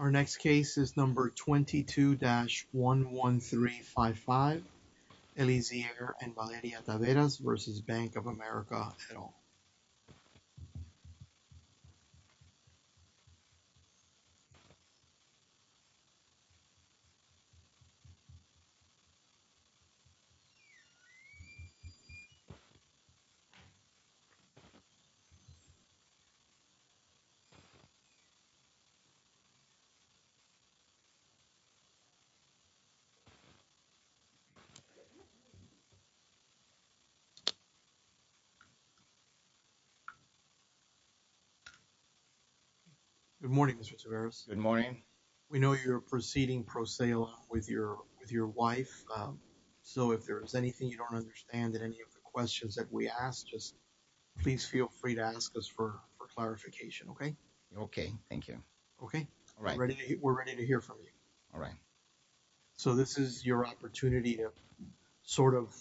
The next case is number 22-113. Eliezer and Valeria Taveras v. Bank of America et al. Good morning, Mr. Taveras. Good morning. We know you're proceeding pro se with your wife. So, if there is anything you don't understand that any of the questions that we asked us, please feel free to ask us for clarification. Okay. Okay. Thank you. Okay. All right. We're ready to hear from you. All right. So, this is your opportunity to sort of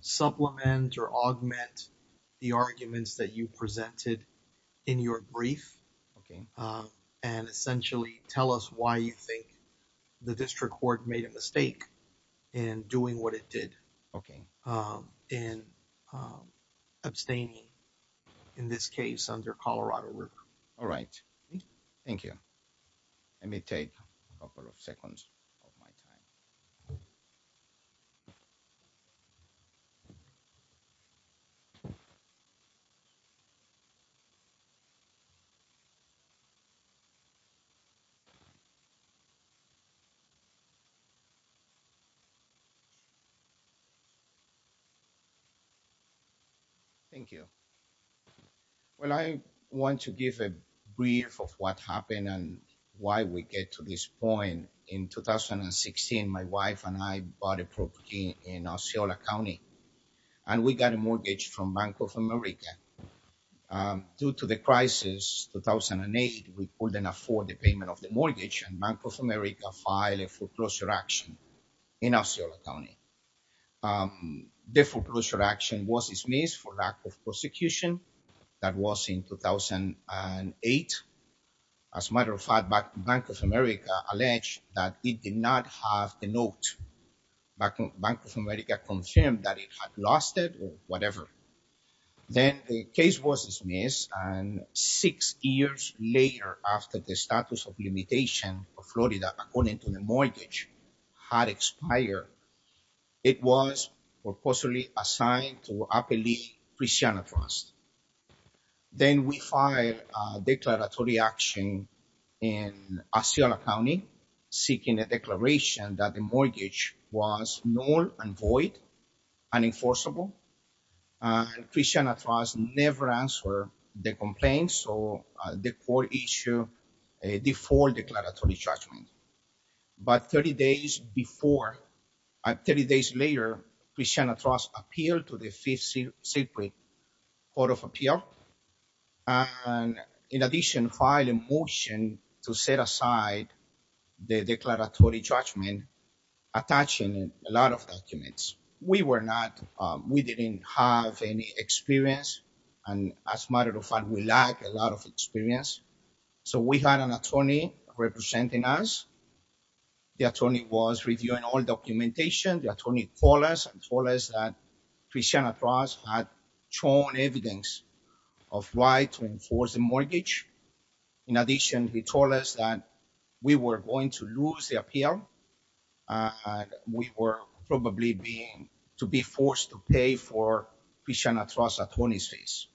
supplement or augment the arguments that you presented in your brief. Okay. And essentially, tell us why you think the district court made a mistake in doing what it did. Okay. And abstaining in this case under Colorado River. All right. Thank you. Let me take a couple of seconds of my time. Thank you. Well, I want to give a brief of what happened and why we get to this point. In 2016, my wife and I bought a property in Osceola County, and we got a mortgage from Bank of America. Due to the crisis 2008, we couldn't afford the payment of the mortgage and Bank of America filed a foreclosure action in Osceola County. The foreclosure action was dismissed for lack of prosecution. That was in 2008. As a matter of fact, Bank of America alleged that it did not have the note. Bank of America confirmed that it had lost it or whatever. Then the case was dismissed, and six years later, after the status of limitation of Florida, according to the mortgage, had expired. It was purposely assigned to a Christiana Trust. Then we filed a declaratory action in Osceola County, seeking a declaration that the mortgage was null and void, unenforceable. Christiana Trust never answered the complaint, so the court issued a default declaratory judgment. But 30 days later, Christiana Trust appealed to the Fifth Circuit Court of Appeal and, in addition, filed a motion to set aside the declaratory judgment, attaching a lot of documents. We didn't have any experience, and as a matter of fact, we lacked a lot of experience. So we had an attorney representing us. The attorney was reviewing all documentation. The attorney called us and told us that Christiana Trust had shown evidence of why to enforce the mortgage. In addition, he told us that we were going to lose the appeal, and we were probably to be forced to pay for Christiana Trust attorney fees.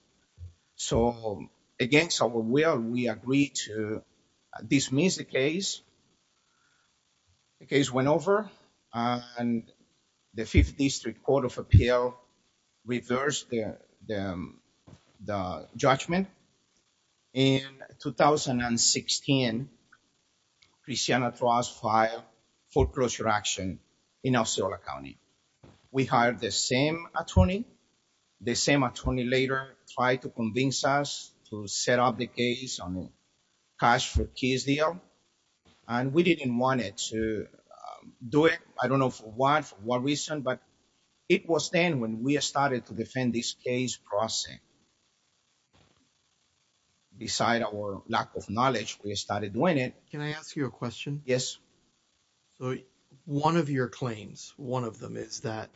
So, against our will, we agreed to dismiss the case. The case went over, and the Fifth District Court of Appeal reversed the judgment. In 2016, Christiana Trust filed a foreclosure action in Osceola County. We hired the same attorney. The same attorney later tried to convince us to set up the case on a cash-for-keys deal, and we didn't want to do it. I don't know for what reason, but it was then when we started to defend this case process. Beside our lack of knowledge, we started doing it. Can I ask you a question? Yes. One of your claims, one of them is that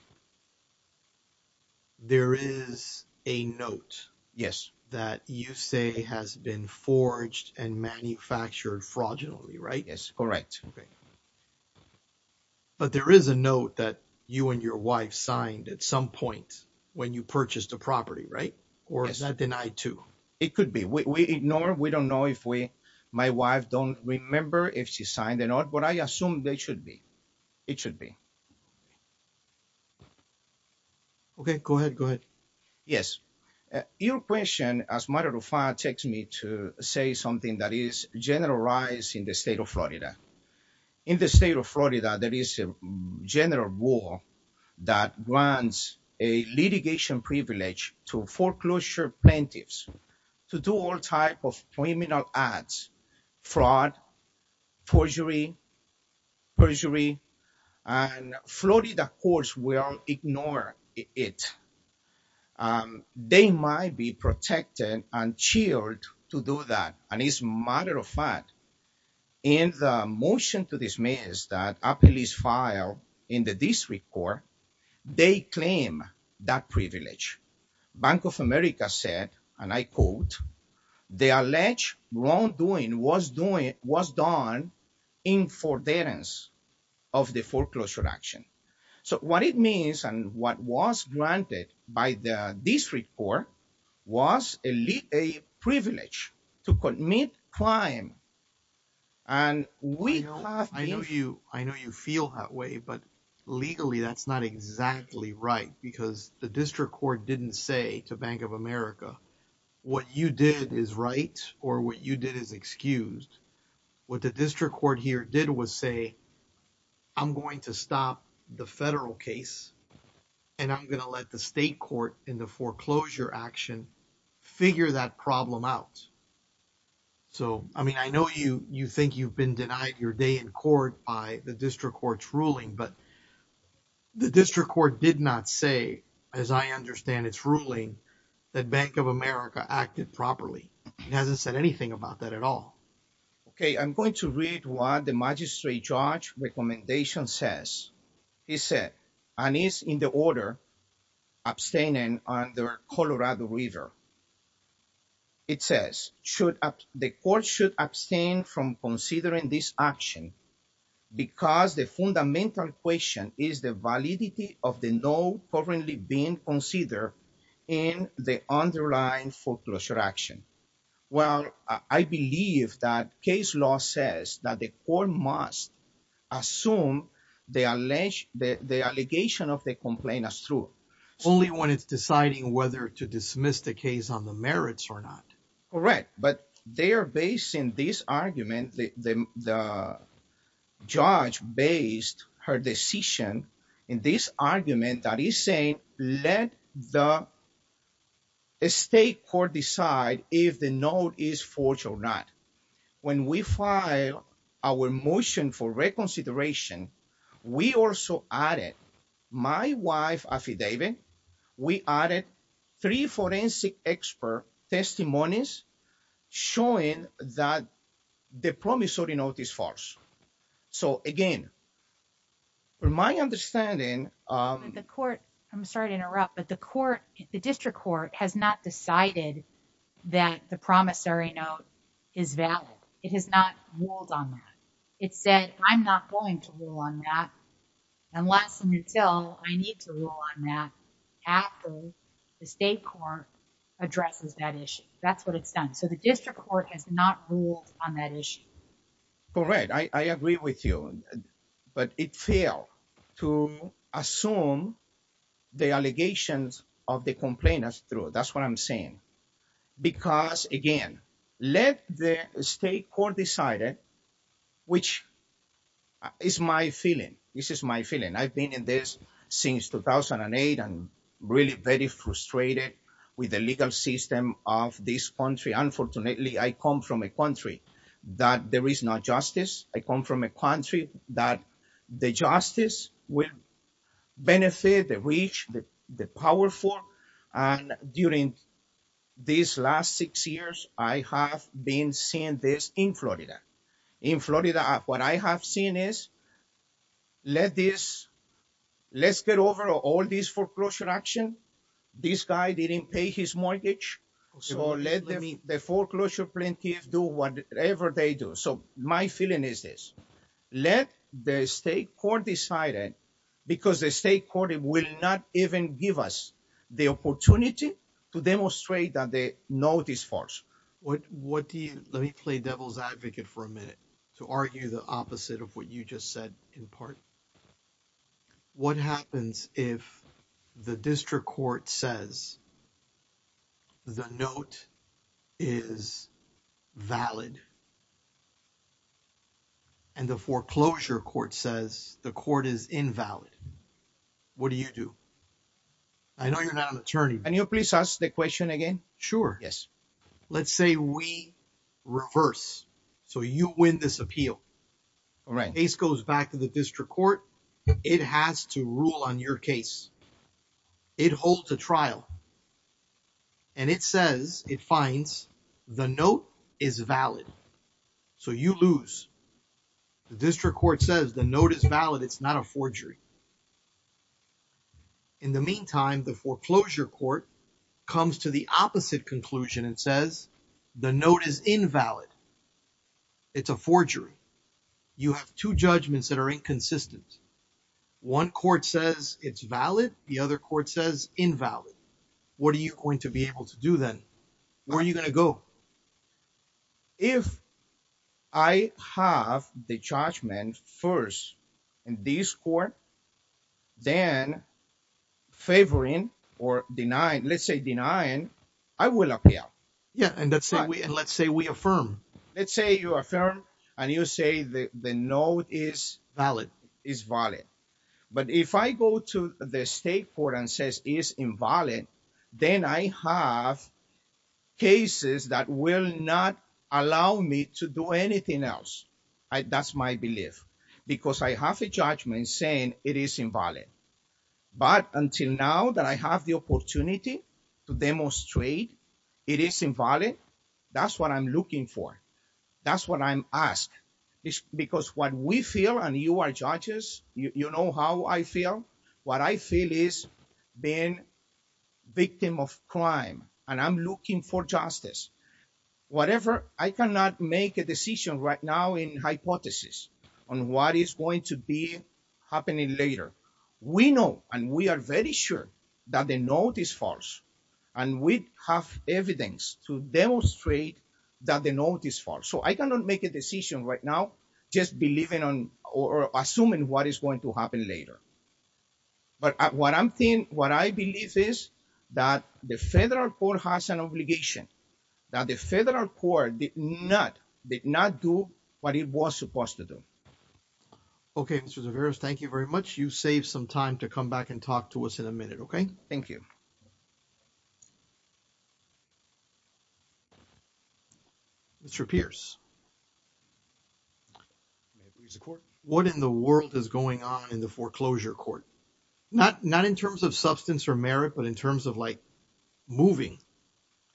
there is a note that you say has been forged and manufactured fraudulently, right? Yes, correct. But there is a note that you and your wife signed at some point when you purchased the property, right? Or is that denied too? It could be. We ignore, we don't know if we, my wife don't remember if she signed the note, but I assume they should be. It should be. Okay, go ahead, go ahead. Yes. Your question, as matter of fact, takes me to say something that is generalized in the state of Florida. In the state of Florida, there is a general rule that grants a litigation privilege to foreclosure plaintiffs to do all types of criminal acts, fraud, perjury, and Florida courts will ignore it. They might be protected and chilled to do that. And as matter of fact, in the motion to dismiss that a police file in the district court, they claim that privilege. Bank of America said, and I quote, the alleged wrongdoing was done in forbearance of the foreclosure action. So what it means and what was granted by the district court was elite, a privilege to commit crime. And we, I know you, I know you feel that way, but legally, that's not exactly right because the district court didn't say to Bank of America, what you did is right. Or what you did is excused. What the district court here did was say. I'm going to stop the federal case. And I'm going to let the state court in the foreclosure action. Figure that problem out. So, I mean, I know you, you think you've been denied your day in court by the district court's ruling, but. The district court did not say, as I understand it's ruling that Bank of America acted properly. It hasn't said anything about that at all. Okay, I'm going to read what the magistrate judge recommendation says. He said, and he's in the order abstaining on their Colorado reader. It says, should the court should abstain from considering this action? Because the fundamental question is the validity of the no currently being considered in the underlying foreclosure action. Well, I believe that case law says that the court must assume the alleged the allegation of the complaint as true. Only when it's deciding whether to dismiss the case on the merits or not. Correct, but they are based in this argument. The judge based her decision in this argument that he's saying, let the. A state court decide if the note is forged or not. When we file our motion for reconsideration. We also added my wife affidavit. We added three forensic expert testimonies. Showing that the promissory note is false. So, again, from my understanding, the court, I'm sorry to interrupt, but the court, the district court has not decided that the promissory note. It has not ruled on that. It said, I'm not going to rule on that. Unless and until I need to rule on that. After the state court addresses that issue, that's what it's done. So, the district court has not ruled on that issue. All right, I agree with you, but it failed to assume. The allegations of the complainants through that's what I'm saying. Because, again, let the state court decided, which is my feeling. This is my feeling. I've been in this since 2008. I'm really very frustrated with the legal system of this country. Unfortunately, I come from a country that there is no justice. I come from a country that the justice will benefit the rich, the powerful. During these last six years, I have been seeing this in Florida. In Florida, what I have seen is, let this, let's get over all this foreclosure action. This guy didn't pay his mortgage. So, let the foreclosure plaintiff do whatever they do. So, my feeling is this. Let the state court decided because the state court will not even give us the opportunity to demonstrate that the note is false. What do you, let me play devil's advocate for a minute to argue the opposite of what you just said in part. What happens if the district court says the note is valid and the foreclosure court says the court is invalid? What do you do? I know you're not an attorney. Can you please ask the question again? Sure. Yes. Let's say we reverse. So, you win this appeal. All right. The case goes back to the district court. It has to rule on your case. It holds a trial. And it says, it finds the note is valid. So, you lose. The district court says the note is valid. It's not a forgery. In the meantime, the foreclosure court comes to the opposite conclusion and says the note is invalid. It's a forgery. You have two judgments that are inconsistent. One court says it's valid. The other court says invalid. What are you going to be able to do then? Where are you going to go? If I have the judgment first in this court, then favoring or denying, let's say denying, I will appeal. Yeah. And let's say we affirm. Let's say you affirm and you say the note is valid. But if I go to the state court and say it's invalid, then I have cases that will not allow me to do anything else. That's my belief. Because I have a judgment saying it is invalid. But until now that I have the opportunity to demonstrate it is invalid, that's what I'm looking for. That's what I'm asked. Because what we feel, and you are judges, you know how I feel. What I feel is being victim of crime and I'm looking for justice. Whatever, I cannot make a decision right now in hypothesis on what is going to be happening later. We know and we are very sure that the note is false. And we have evidence to demonstrate that the note is false. So I cannot make a decision right now just believing or assuming what is going to happen later. But what I'm saying, what I believe is that the federal court has an obligation that the federal court did not, did not do what it was supposed to do. Okay. Thank you very much. You save some time to come back and talk to us in a minute. Okay. Thank you. Mr. Not not in terms of substance or merit, but in terms of like, moving,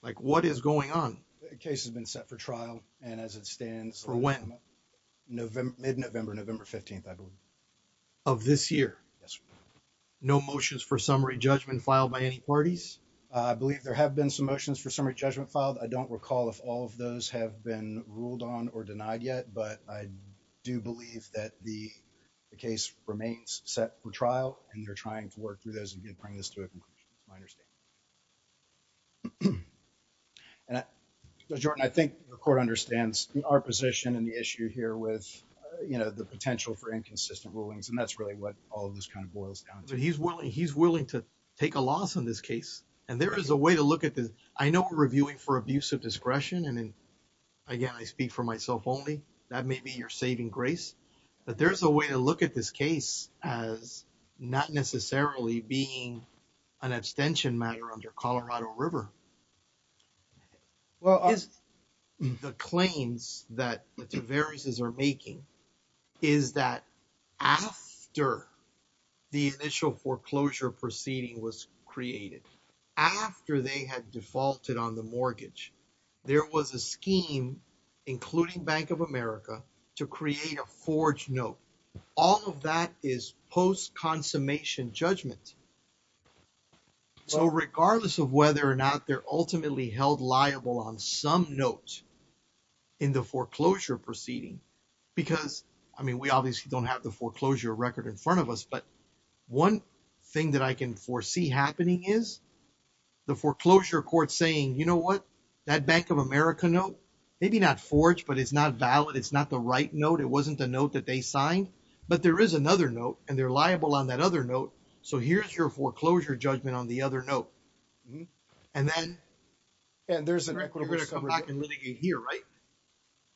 like, what is going on, the case has been set for trial. And as it stands, for when November, mid November, November 15th. Of this year. Yes, no motions for summary judgment filed by any parties. I believe there have been some motions for summary judgment filed. I don't recall if all of those have been ruled on or denied yet, but I do believe that the case remains set for trial, and they're trying to work through those and bring this to a conclusion. And I think the court understands our position and the issue here with, you know, the potential for inconsistent rulings and that's really what all of this kind of boils down to he's willing he's willing to take a loss on this case. And there is a way to look at this. I know we're reviewing for abuse of discretion and. Again, I speak for myself only that may be your saving grace. But there's a way to look at this case as not necessarily being an extension matter under Colorado River. Well, the claims that the various is are making. Is that after. The initial foreclosure proceeding was created. After they had defaulted on the mortgage. There was a scheme, including bank of America to create a forge note. All of that is post consummation judgment. So, regardless of whether or not they're ultimately held liable on some notes. In the foreclosure proceeding, because, I mean, we obviously don't have the foreclosure record in front of us, but. 1 thing that I can foresee happening is. The foreclosure court saying, you know what? That bank of America note, maybe not forged, but it's not valid. It's not the right note. It wasn't the note that they signed, but there is another note and they're liable on that other note. So, here's your foreclosure judgment on the other note. And then. And there's an equity here, right?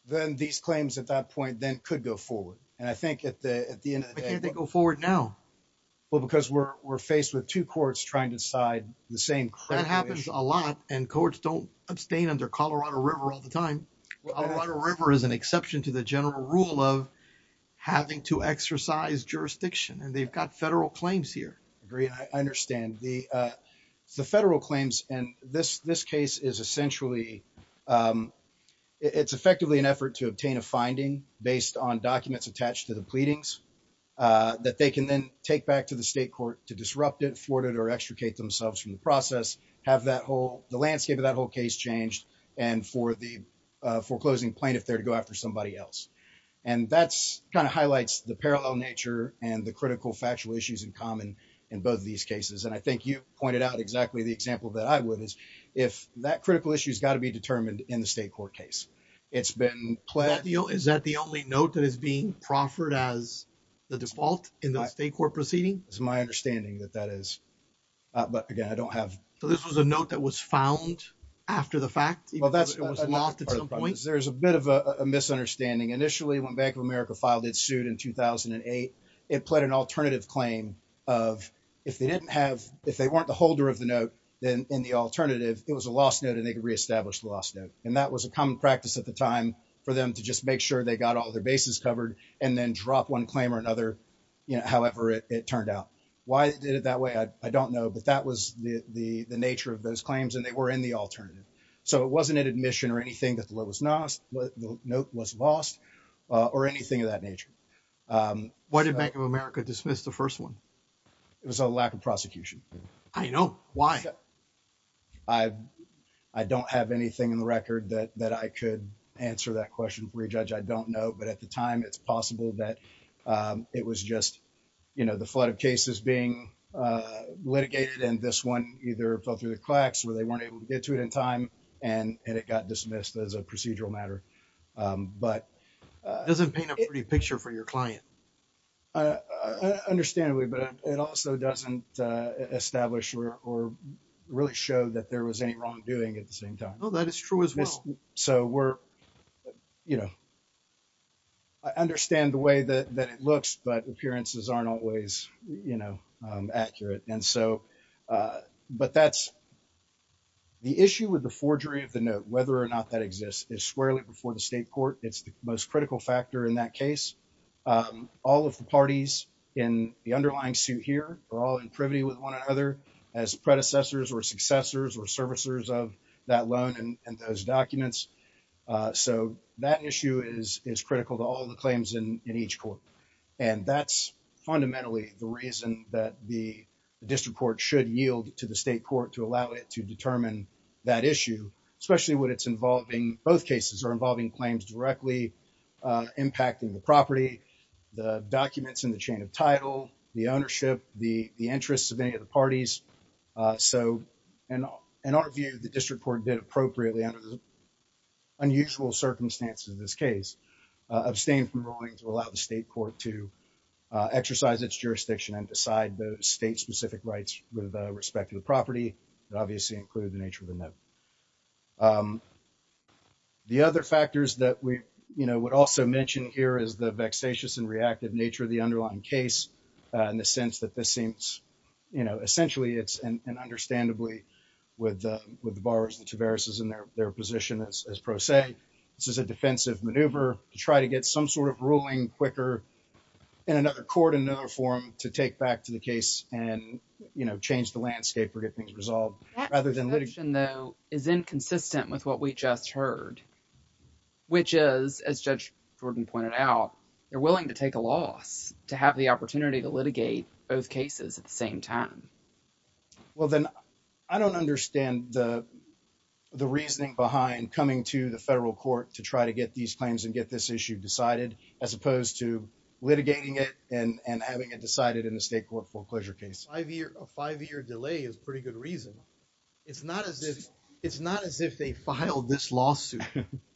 Then these claims at that point, then could go forward. And I think at the, at the end, they go forward now. Well, because we're, we're faced with 2 courts trying to decide the same. That happens a lot and courts don't abstain under Colorado River all the time. A lot of river is an exception to the general rule of having to exercise jurisdiction and they've got federal claims here. I agree. I understand the, the federal claims and this, this case is essentially. It's effectively an effort to obtain a finding based on documents attached to the pleadings that they can then take back to the state court to disrupt it forwarded or extricate themselves from the process have that whole the landscape of that whole case changed. And for the foreclosing plaintiff there to go after somebody else. And that's kind of highlights the parallel nature and the critical factual issues in common in both of these cases. And I think you pointed out exactly the example that I would is if that critical issues got to be determined in the state court case. It's been. Is that the only note that is being proffered as the default in the state court proceeding is my understanding that that is. So this was a note that was found after the fact. There's a bit of a misunderstanding initially when Bank of America filed it sued in 2008, it played an alternative claim of, if they didn't have, if they weren't the holder of the note, then in the alternative, it was a lost note and they could reestablish the last note, and that was a common practice at the time for them to just make sure they got all their bases covered, and then drop one claim or another. However, it turned out, why did it that way I don't know but that was the, the, the nature of those claims and they were in the alternative. So it wasn't an admission or anything that was not the note was lost, or anything of that nature. What did Bank of America dismissed the first one. It was a lack of prosecution. I know why. I don't have anything in the record that that I could answer that question for a judge I don't know but at the time it's possible that it was just, you know, the flood of cases being litigated and this one, either fell through the cracks where they weren't able to get to it in time, and it got dismissed as a procedural matter. Doesn't paint a pretty picture for your client. Understandably, but it also doesn't establish or really show that there was any wrongdoing at the same time. Oh, that is true as well. So we're, you know, I understand the way that it looks but appearances aren't always, you know, accurate and so, but that's the issue with the forgery of the note, whether or not that exists is squarely It's the most critical factor in that case. All of the parties in the underlying suit here are all in privity with one another as predecessors or successors or servicers of that loan and those documents. So, that issue is critical to all the claims in each court. And that's fundamentally the reason that the district court should yield to the state court to allow it to determine that issue, especially when it's involving both cases are involving claims directly impacting the property, the documents in the chain of title, the ownership, the interests of any of the parties. So, in our view, the district court did appropriately under the unusual circumstances of this case abstain from rolling to allow the state court to exercise its jurisdiction and decide the state specific rights with respect to the property. The other factors that we, you know, would also mention here is the vexatious and reactive nature of the underlying case, in the sense that this seems, you know, essentially it's an understandably with the, with the borrowers, the Tavares is in their, their position as pro se, this is a defensive maneuver to try to get some sort of ruling quicker. In another court in another forum to take back to the case and, you know, change the landscape or get things resolved rather than litigation, though, is inconsistent with what we just heard, which is, as Judge Jordan pointed out, they're willing to take a loss to have the opportunity to litigate both cases at the same time. Well, then I don't understand the, the reasoning behind coming to the federal court to try to get these claims and get this issue decided, as opposed to litigating it and and having it decided in the state court foreclosure case. A 5 year delay is pretty good reason. It's not as if it's not as if they filed this lawsuit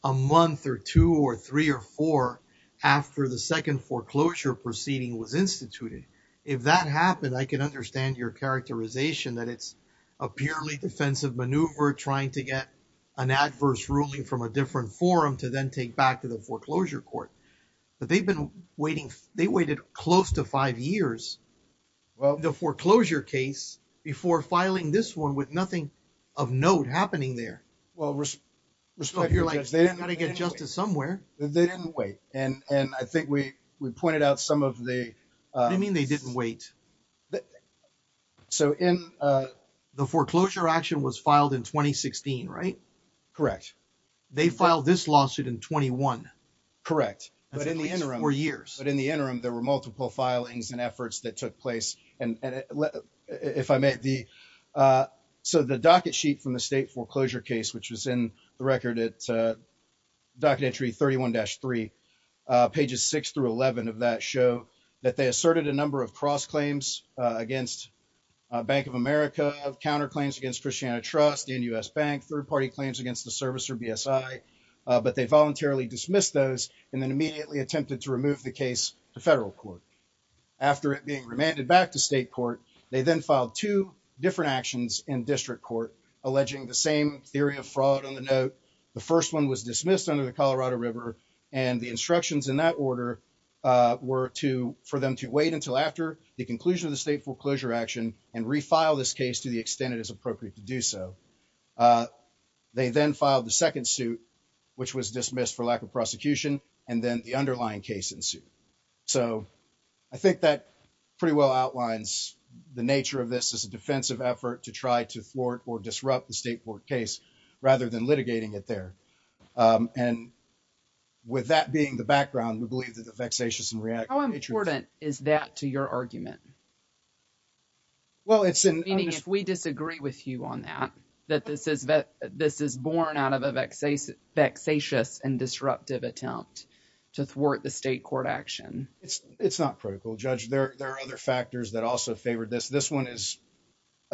a month or 2 or 3 or 4 after the 2nd foreclosure proceeding was instituted. If that happened, I can understand your characterization that it's a purely defensive maneuver trying to get. An adverse ruling from a different forum to then take back to the foreclosure court, but they've been waiting. They waited close to 5 years. Well, the foreclosure case before filing this 1 with nothing of note happening there. Well, you're like, I gotta get justice somewhere. They didn't wait. And I think we, we pointed out some of the, I mean, they didn't wait. So, in the foreclosure action was filed in 2016, right? Correct. They filed this lawsuit in 21. Correct. But in the interim for years, but in the interim, there were multiple filings and efforts that took place. And if I met the. So, the docket sheet from the state foreclosure case, which was in the record, it's a. Documentary 31 dash 3 pages, 6 through 11 of that show that they asserted a number of cross claims against. Bank of America counterclaims against Christiana trust in US bank, 3rd party claims against the service or BSI, but they voluntarily dismissed those and then immediately attempted to remove the case to federal court. After it being remanded back to state court, they then filed 2 different actions in district court, alleging the same theory of fraud on the note. The 1st, 1 was dismissed under the Colorado river and the instructions in that order. Were to for them to wait until after the conclusion of the state foreclosure action and refile this case to the extent it is appropriate to do so. They then filed the 2nd suit. Which was dismissed for lack of prosecution and then the underlying case in suit. So, I think that pretty well outlines the nature of this as a defensive effort to try to thwart or disrupt the state court case, rather than litigating it there. And with that being the background, we believe that the vexatious and react. How important is that to your argument? Well, it's in if we disagree with you on that, that this is that this is born out of a vexatious and disruptive attempt to thwart the state court action. It's it's not critical judge. There are other factors that also favored this. This 1 is.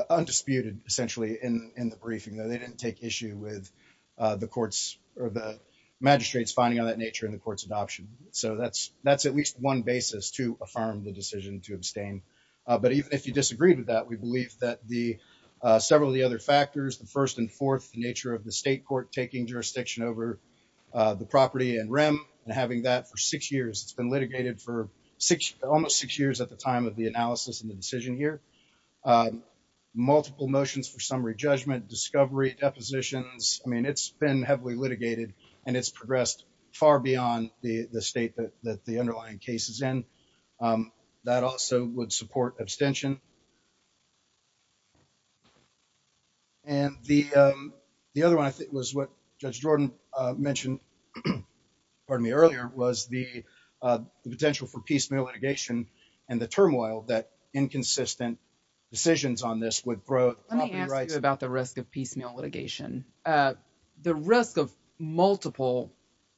Undisputed essentially in the briefing that they didn't take issue with the courts or the magistrates finding on that nature in the courts adoption. So, that's that's at least 1 basis to affirm the decision to abstain. But even if you disagree with that, we believe that the several of the other factors, the 1st and 4th nature of the state court, taking jurisdiction over the property and Ram and having that for 6 years, it's been litigated for 6, almost 6 years at the time of the analysis and the decision here. Multiple motions for summary judgment, discovery depositions. I mean, it's been heavily litigated and it's progressed far beyond the state that the underlying cases in that also would support abstention. And the, um, the other 1, I think was what judge Jordan mentioned. Pardon me earlier was the, uh, the potential for piecemeal litigation and the turmoil that inconsistent decisions on this would grow about the risk of piecemeal litigation. The risk of multiple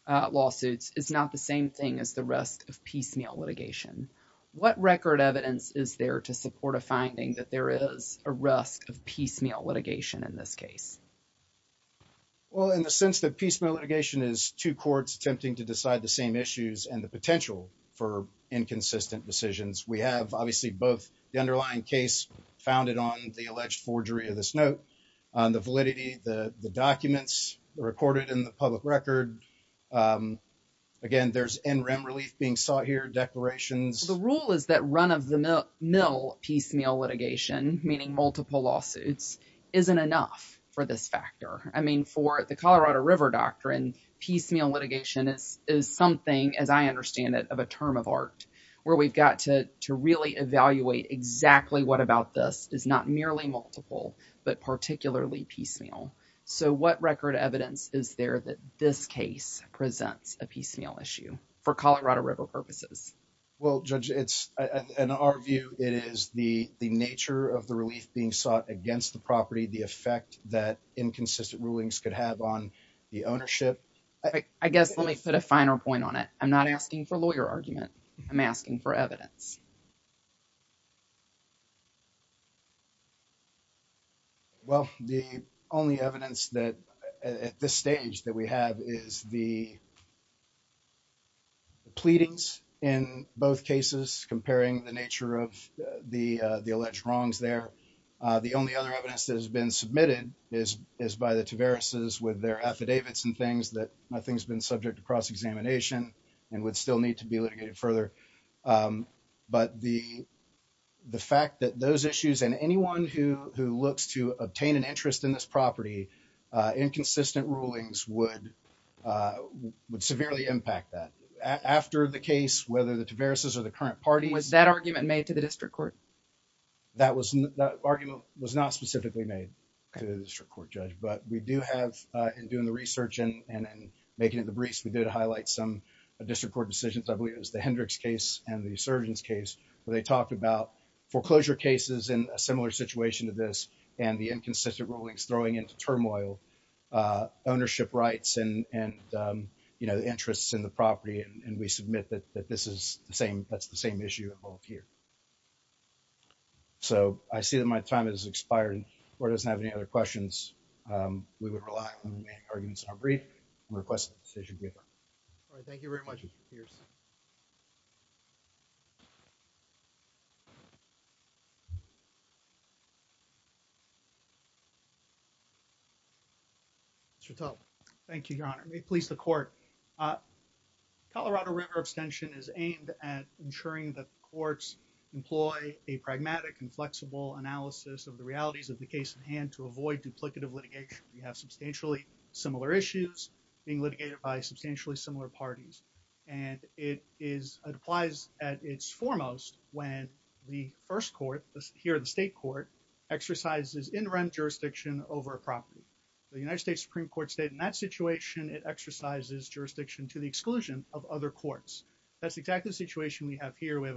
lawsuits is not the same thing as the rest of piecemeal litigation. What record evidence is there to support a finding that there is a rest of piecemeal litigation in this case? Well, in the sense that piecemeal litigation is 2 courts attempting to decide the same issues and the potential for inconsistent decisions. We have obviously both the underlying case founded on the alleged forgery of this note on the validity, the documents recorded in the public record. Again, there's in rem relief being sought here. Declarations. The rule is that run of the mill piecemeal litigation, meaning multiple lawsuits, isn't enough for this factor. I mean, for the Colorado River doctrine, piecemeal litigation is something, as I understand it, of a term of art where we've got to really evaluate exactly what about this is not merely multiple, but particularly piecemeal. So what record evidence is there that this case presents a piecemeal issue for Colorado River purposes? Well, judge, it's in our view, it is the nature of the relief being sought against the property, the effect that inconsistent rulings could have on the ownership. I guess let me put a final point on it. I'm not asking for lawyer argument. I'm asking for evidence. Well, the only evidence that at this stage that we have is the pleadings in both cases comparing the nature of the alleged wrongs there. The only other evidence that has been submitted is by the Tavares with their affidavits and things that nothing's been subject to cross examination and would still need to be litigated further. But the fact that those issues and anyone who looks to obtain an interest in this property, inconsistent rulings would severely impact that. After the case, whether the Tavareses or the current parties... Was that argument made to the district court? That argument was not specifically made to the district court, judge. But we do have, in doing the research and making it the briefs, we did highlight some district court decisions. I believe it was the Hendricks case and the Surgeon's case where they talked about foreclosure cases in a similar situation to this and the inconsistent rulings throwing into turmoil ownership rights and interests in the property. And we submit that that's the same issue involved here. So I see that my time has expired or doesn't have any other questions. We would rely on the main arguments in our brief and request a decision. Thank you very much, Mr. Pierce. Mr. Tubbs. Thank you, Your Honor. May it please the court. Colorado River abstention is aimed at ensuring that courts employ a pragmatic and flexible analysis of the realities of the case at hand to avoid duplicative litigation. We have substantially similar issues being litigated by substantially similar parties. And it is applies at its foremost when the first court here the state court exercises in rent jurisdiction over property. The United States Supreme Court state in that situation it exercises jurisdiction to the exclusion of other courts. That's exactly the situation we have here we have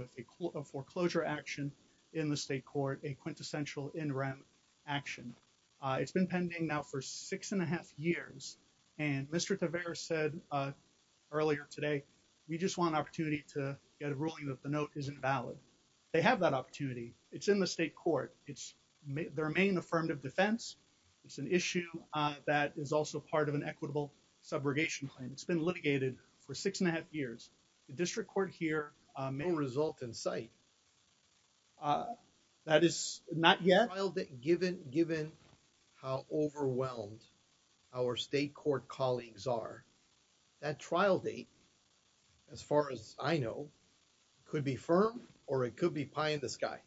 a foreclosure action in the state court a quintessential in rent action. It's been pending now for six and a half years. And Mr. Taveras said earlier today, we just want an opportunity to get a ruling that the note isn't valid. They have that opportunity. It's in the state court, it's their main affirmative defense. It's an issue that is also part of an equitable subrogation and it's been litigated for six and a half years. The district court here may result in site. That is not yet given given how overwhelmed our state court colleagues are that trial date. As far as I know, could be firm or it could be pie in the sky.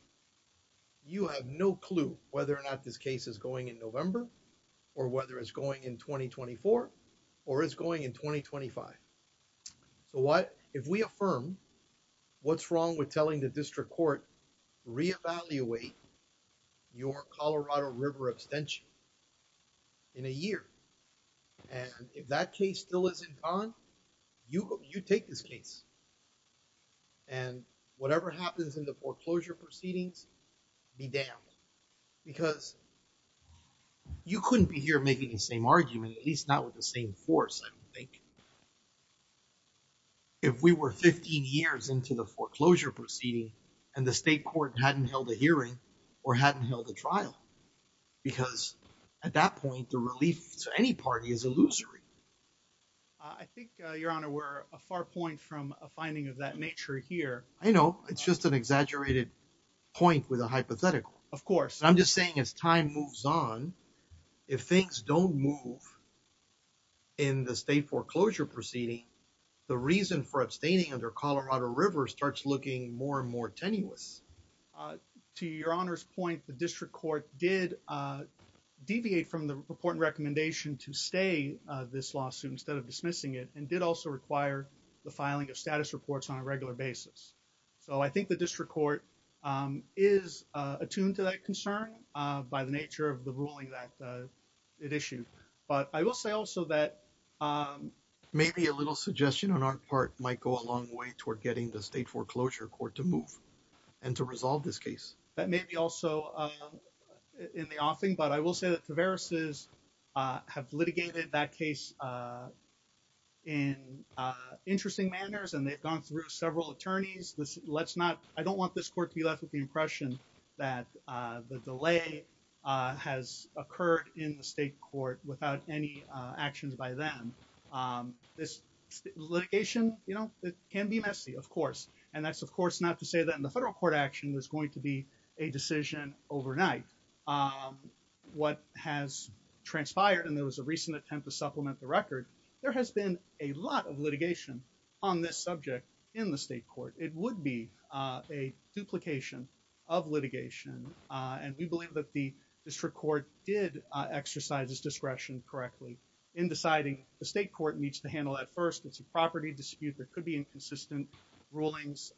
You have no clue whether or not this case is going in November or whether it's going in 2024 or it's going in 2025. So what if we affirm what's wrong with telling the district court re-evaluate your Colorado River extension in a year. And if that case still isn't gone, you take this case and whatever happens in the foreclosure proceedings be damned. Because you couldn't be here making the same argument, at least not with the same force. I think if we were 15 years into the foreclosure proceeding and the state court hadn't held a hearing or hadn't held a trial. Because at that point, the relief to any party is illusory. I think, Your Honor, we're a far point from a finding of that nature here. I know it's just an exaggerated point with a hypothetical. Of course. I'm just saying as time moves on, if things don't move in the state foreclosure proceeding, the reason for abstaining under Colorado River starts looking more and more tenuous. To Your Honor's point, the district court did deviate from the important recommendation to stay this lawsuit instead of dismissing it and did also require the filing of status reports on a regular basis. So I think the district court is attuned to that concern by the nature of the ruling that it issued. But I will say also that maybe a little suggestion on our part might go a long way toward getting the state foreclosure court to move. And to resolve this case. That may be also in the offing. But I will say that Taveras' have litigated that case in interesting manners and they've gone through several attorneys. I don't want this court to be left with the impression that the delay has occurred in the state court without any actions by them. This litigation can be messy, of course. And that's, of course, not to say that in the federal court action, there's going to be a decision overnight. What has transpired and there was a recent attempt to supplement the record, there has been a lot of litigation on this subject in the state court. It would be a duplication of litigation. And we believe that the district court did exercise its discretion correctly in deciding the state court needs to handle that first. It's a property dispute that could be inconsistent rulings.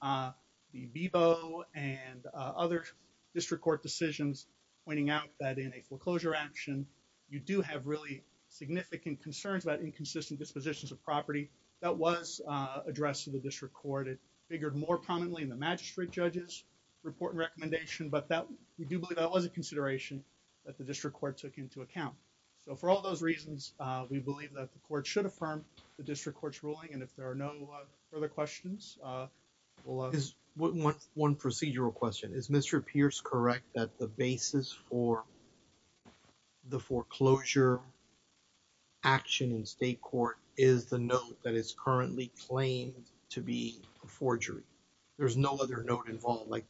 The BBO and other district court decisions pointing out that in a foreclosure action, you do have really significant concerns about inconsistent dispositions of property. That was addressed to the district court. It figured more prominently in the magistrate judge's report recommendation. But we do believe that was a consideration that the district court took into account. So for all those reasons, we believe that the court should affirm the district court's ruling. And if there are no further questions. One procedural question is Mr. Pierce correct that the basis for the foreclosure action in state court is the note that is currently claimed to be a forgery. There's no other note involved like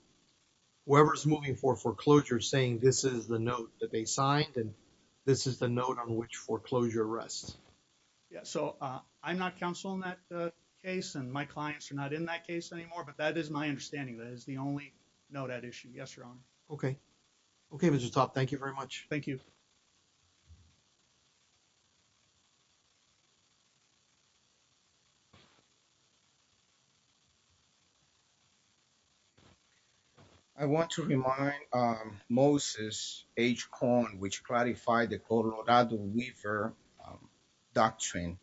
whoever's moving for foreclosure saying this is the note that they signed and this is the note on which foreclosure arrests. Yeah, so I'm not counsel in that case and my clients are not in that case anymore. But that is my understanding. That is the only note at issue. Yes, you're on. Okay. Thank you very much. Thank you. Thank you. I want to remind Moses H. Doctrine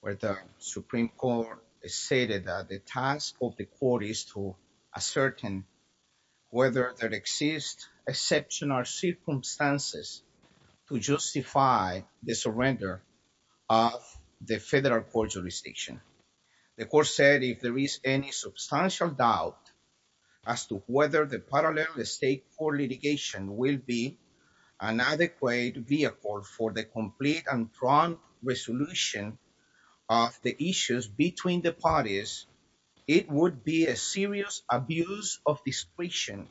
where the Supreme Court stated that the task of the court is to ascertain whether there exists a section or circumstances to justify the surrender of the federal court jurisdiction. The court said if there is any substantial doubt as to whether the parallel estate for litigation will be an adequate vehicle for the complete and drawn resolution of the issues between the parties. It would be a serious abuse of discretion.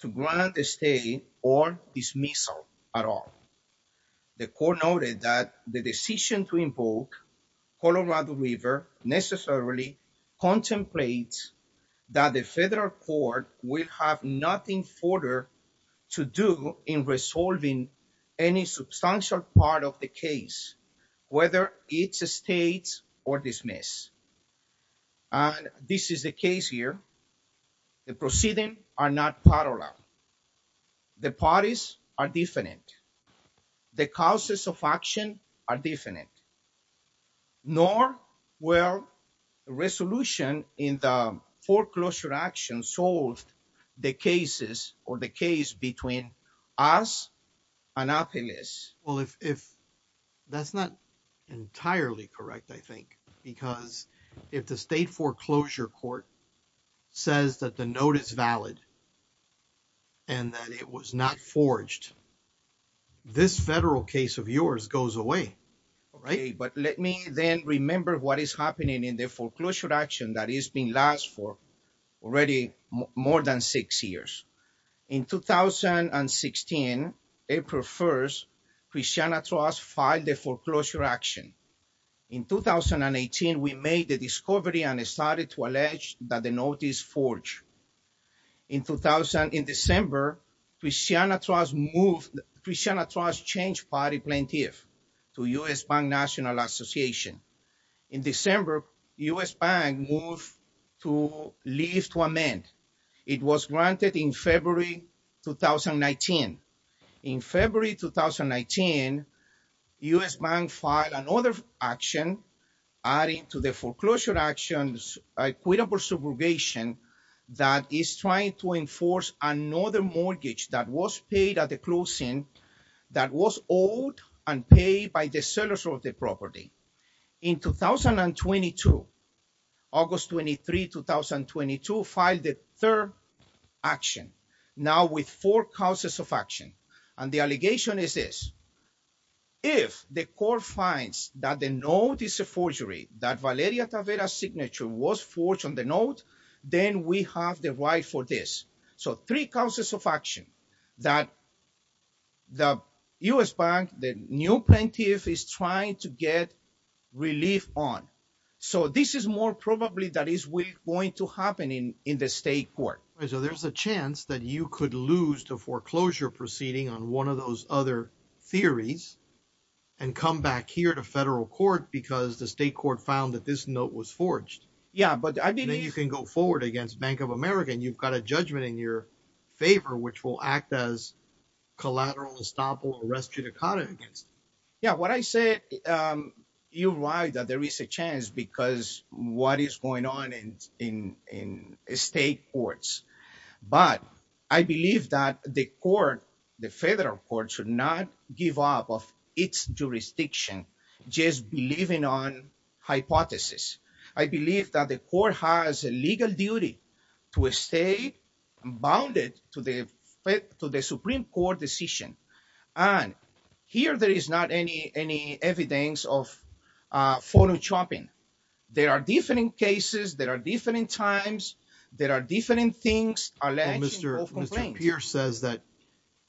To grant the state or dismissal at all. The court noted that the decision to invoke Colorado River necessarily contemplates that the federal court will have nothing further to do in resolving any substantial part of the case, whether it's a state or dismiss. This is the case here. The proceeding are not parallel. The parties are different. The causes of action are different. Nor where resolution in the foreclosure action sold the cases or the case between us. Well, if that's not entirely correct, I think, because if the state foreclosure court says that the note is valid. And that it was not forged. This federal case of yours goes away. Right, but let me then remember what is happening in the foreclosure action that is being last for already more than 6 years. In 2016, April 1st, Christiana trust file the foreclosure action. In 2018 we made the discovery and started to allege that the notice forge. In 2000 in December. In December, we see on a trust move. We send a trust change party plaintiff to US Bank National Association. In December, US Bank move to leave to amend. It was granted in February, 2019. In February, 2019, US Bank file another action. Adding to the foreclosure actions, equitable subrogation. That is trying to enforce another mortgage that was paid at the closing. That was old and paid by the sellers of the property. In 2022, August 23, 2022, file the third action. Now with four causes of action. And the allegation is this. If the court finds that the note is a forgery, that Valeria Tavera's signature was forged on the note. Then we have the right for this. So three causes of action that the US Bank, the new plaintiff is trying to get relief on. So this is more probably that is going to happen in the state court. So there's a chance that you could lose the foreclosure proceeding on one of those other theories. And come back here to federal court because the state court found that this note was forged. Yeah, but I mean, you can go forward against Bank of America and you've got a judgment in your favor, which will act as collateral estoppel. Yeah, what I said, you're right that there is a chance because what is going on in state courts. But I believe that the court, the federal court should not give up of its jurisdiction. Just believing on hypothesis. I believe that the court has a legal duty to a state bounded to the to the Supreme Court decision. And here there is not any any evidence of photoshopping. There are different cases. There are different times. There are different things. Mr. Here says that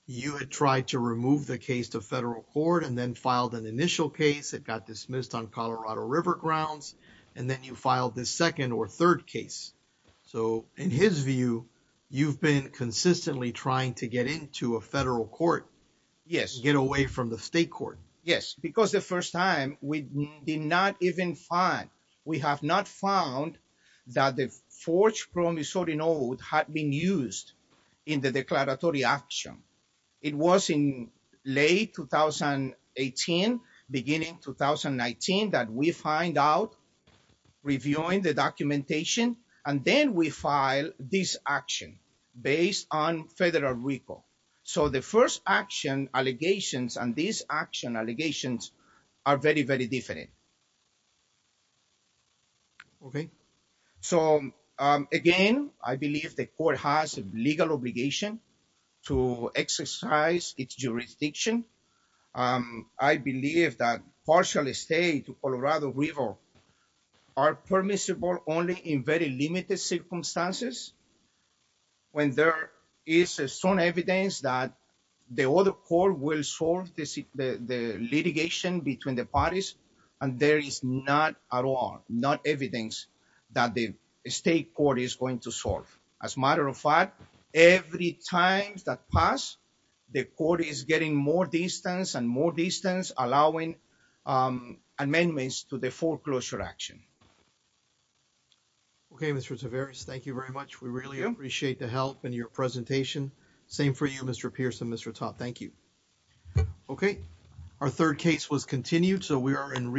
you had tried to remove the case to federal court and then filed an initial case. It got dismissed on Colorado River grounds. And then you filed the second or third case. So in his view, you've been consistently trying to get into a federal court. Yes. Get away from the state court. Yes, because the first time we did not even find. We have not found that the forged promissory note had been used in the declaratory action. It was in late 2018, beginning 2019, that we find out reviewing the documentation. And then we file this action based on federal recall. So the first action allegations and these action allegations are very, very different. OK, so, again, I believe the court has a legal obligation to exercise its jurisdiction. I believe that partially state Colorado River are permissible only in very limited circumstances. When there is a strong evidence that the other court will solve the litigation between the parties. And there is not at all, not evidence that the state court is going to solve. As a matter of fact, every time that pass, the court is getting more distance and more distance, allowing amendments to the foreclosure action. OK, Mr. Tavares, thank you very much. We really appreciate the help and your presentation. Same for you, Mr. Pierce and Mr. Todd. Thank you. OK, our third case was continued. So we are in.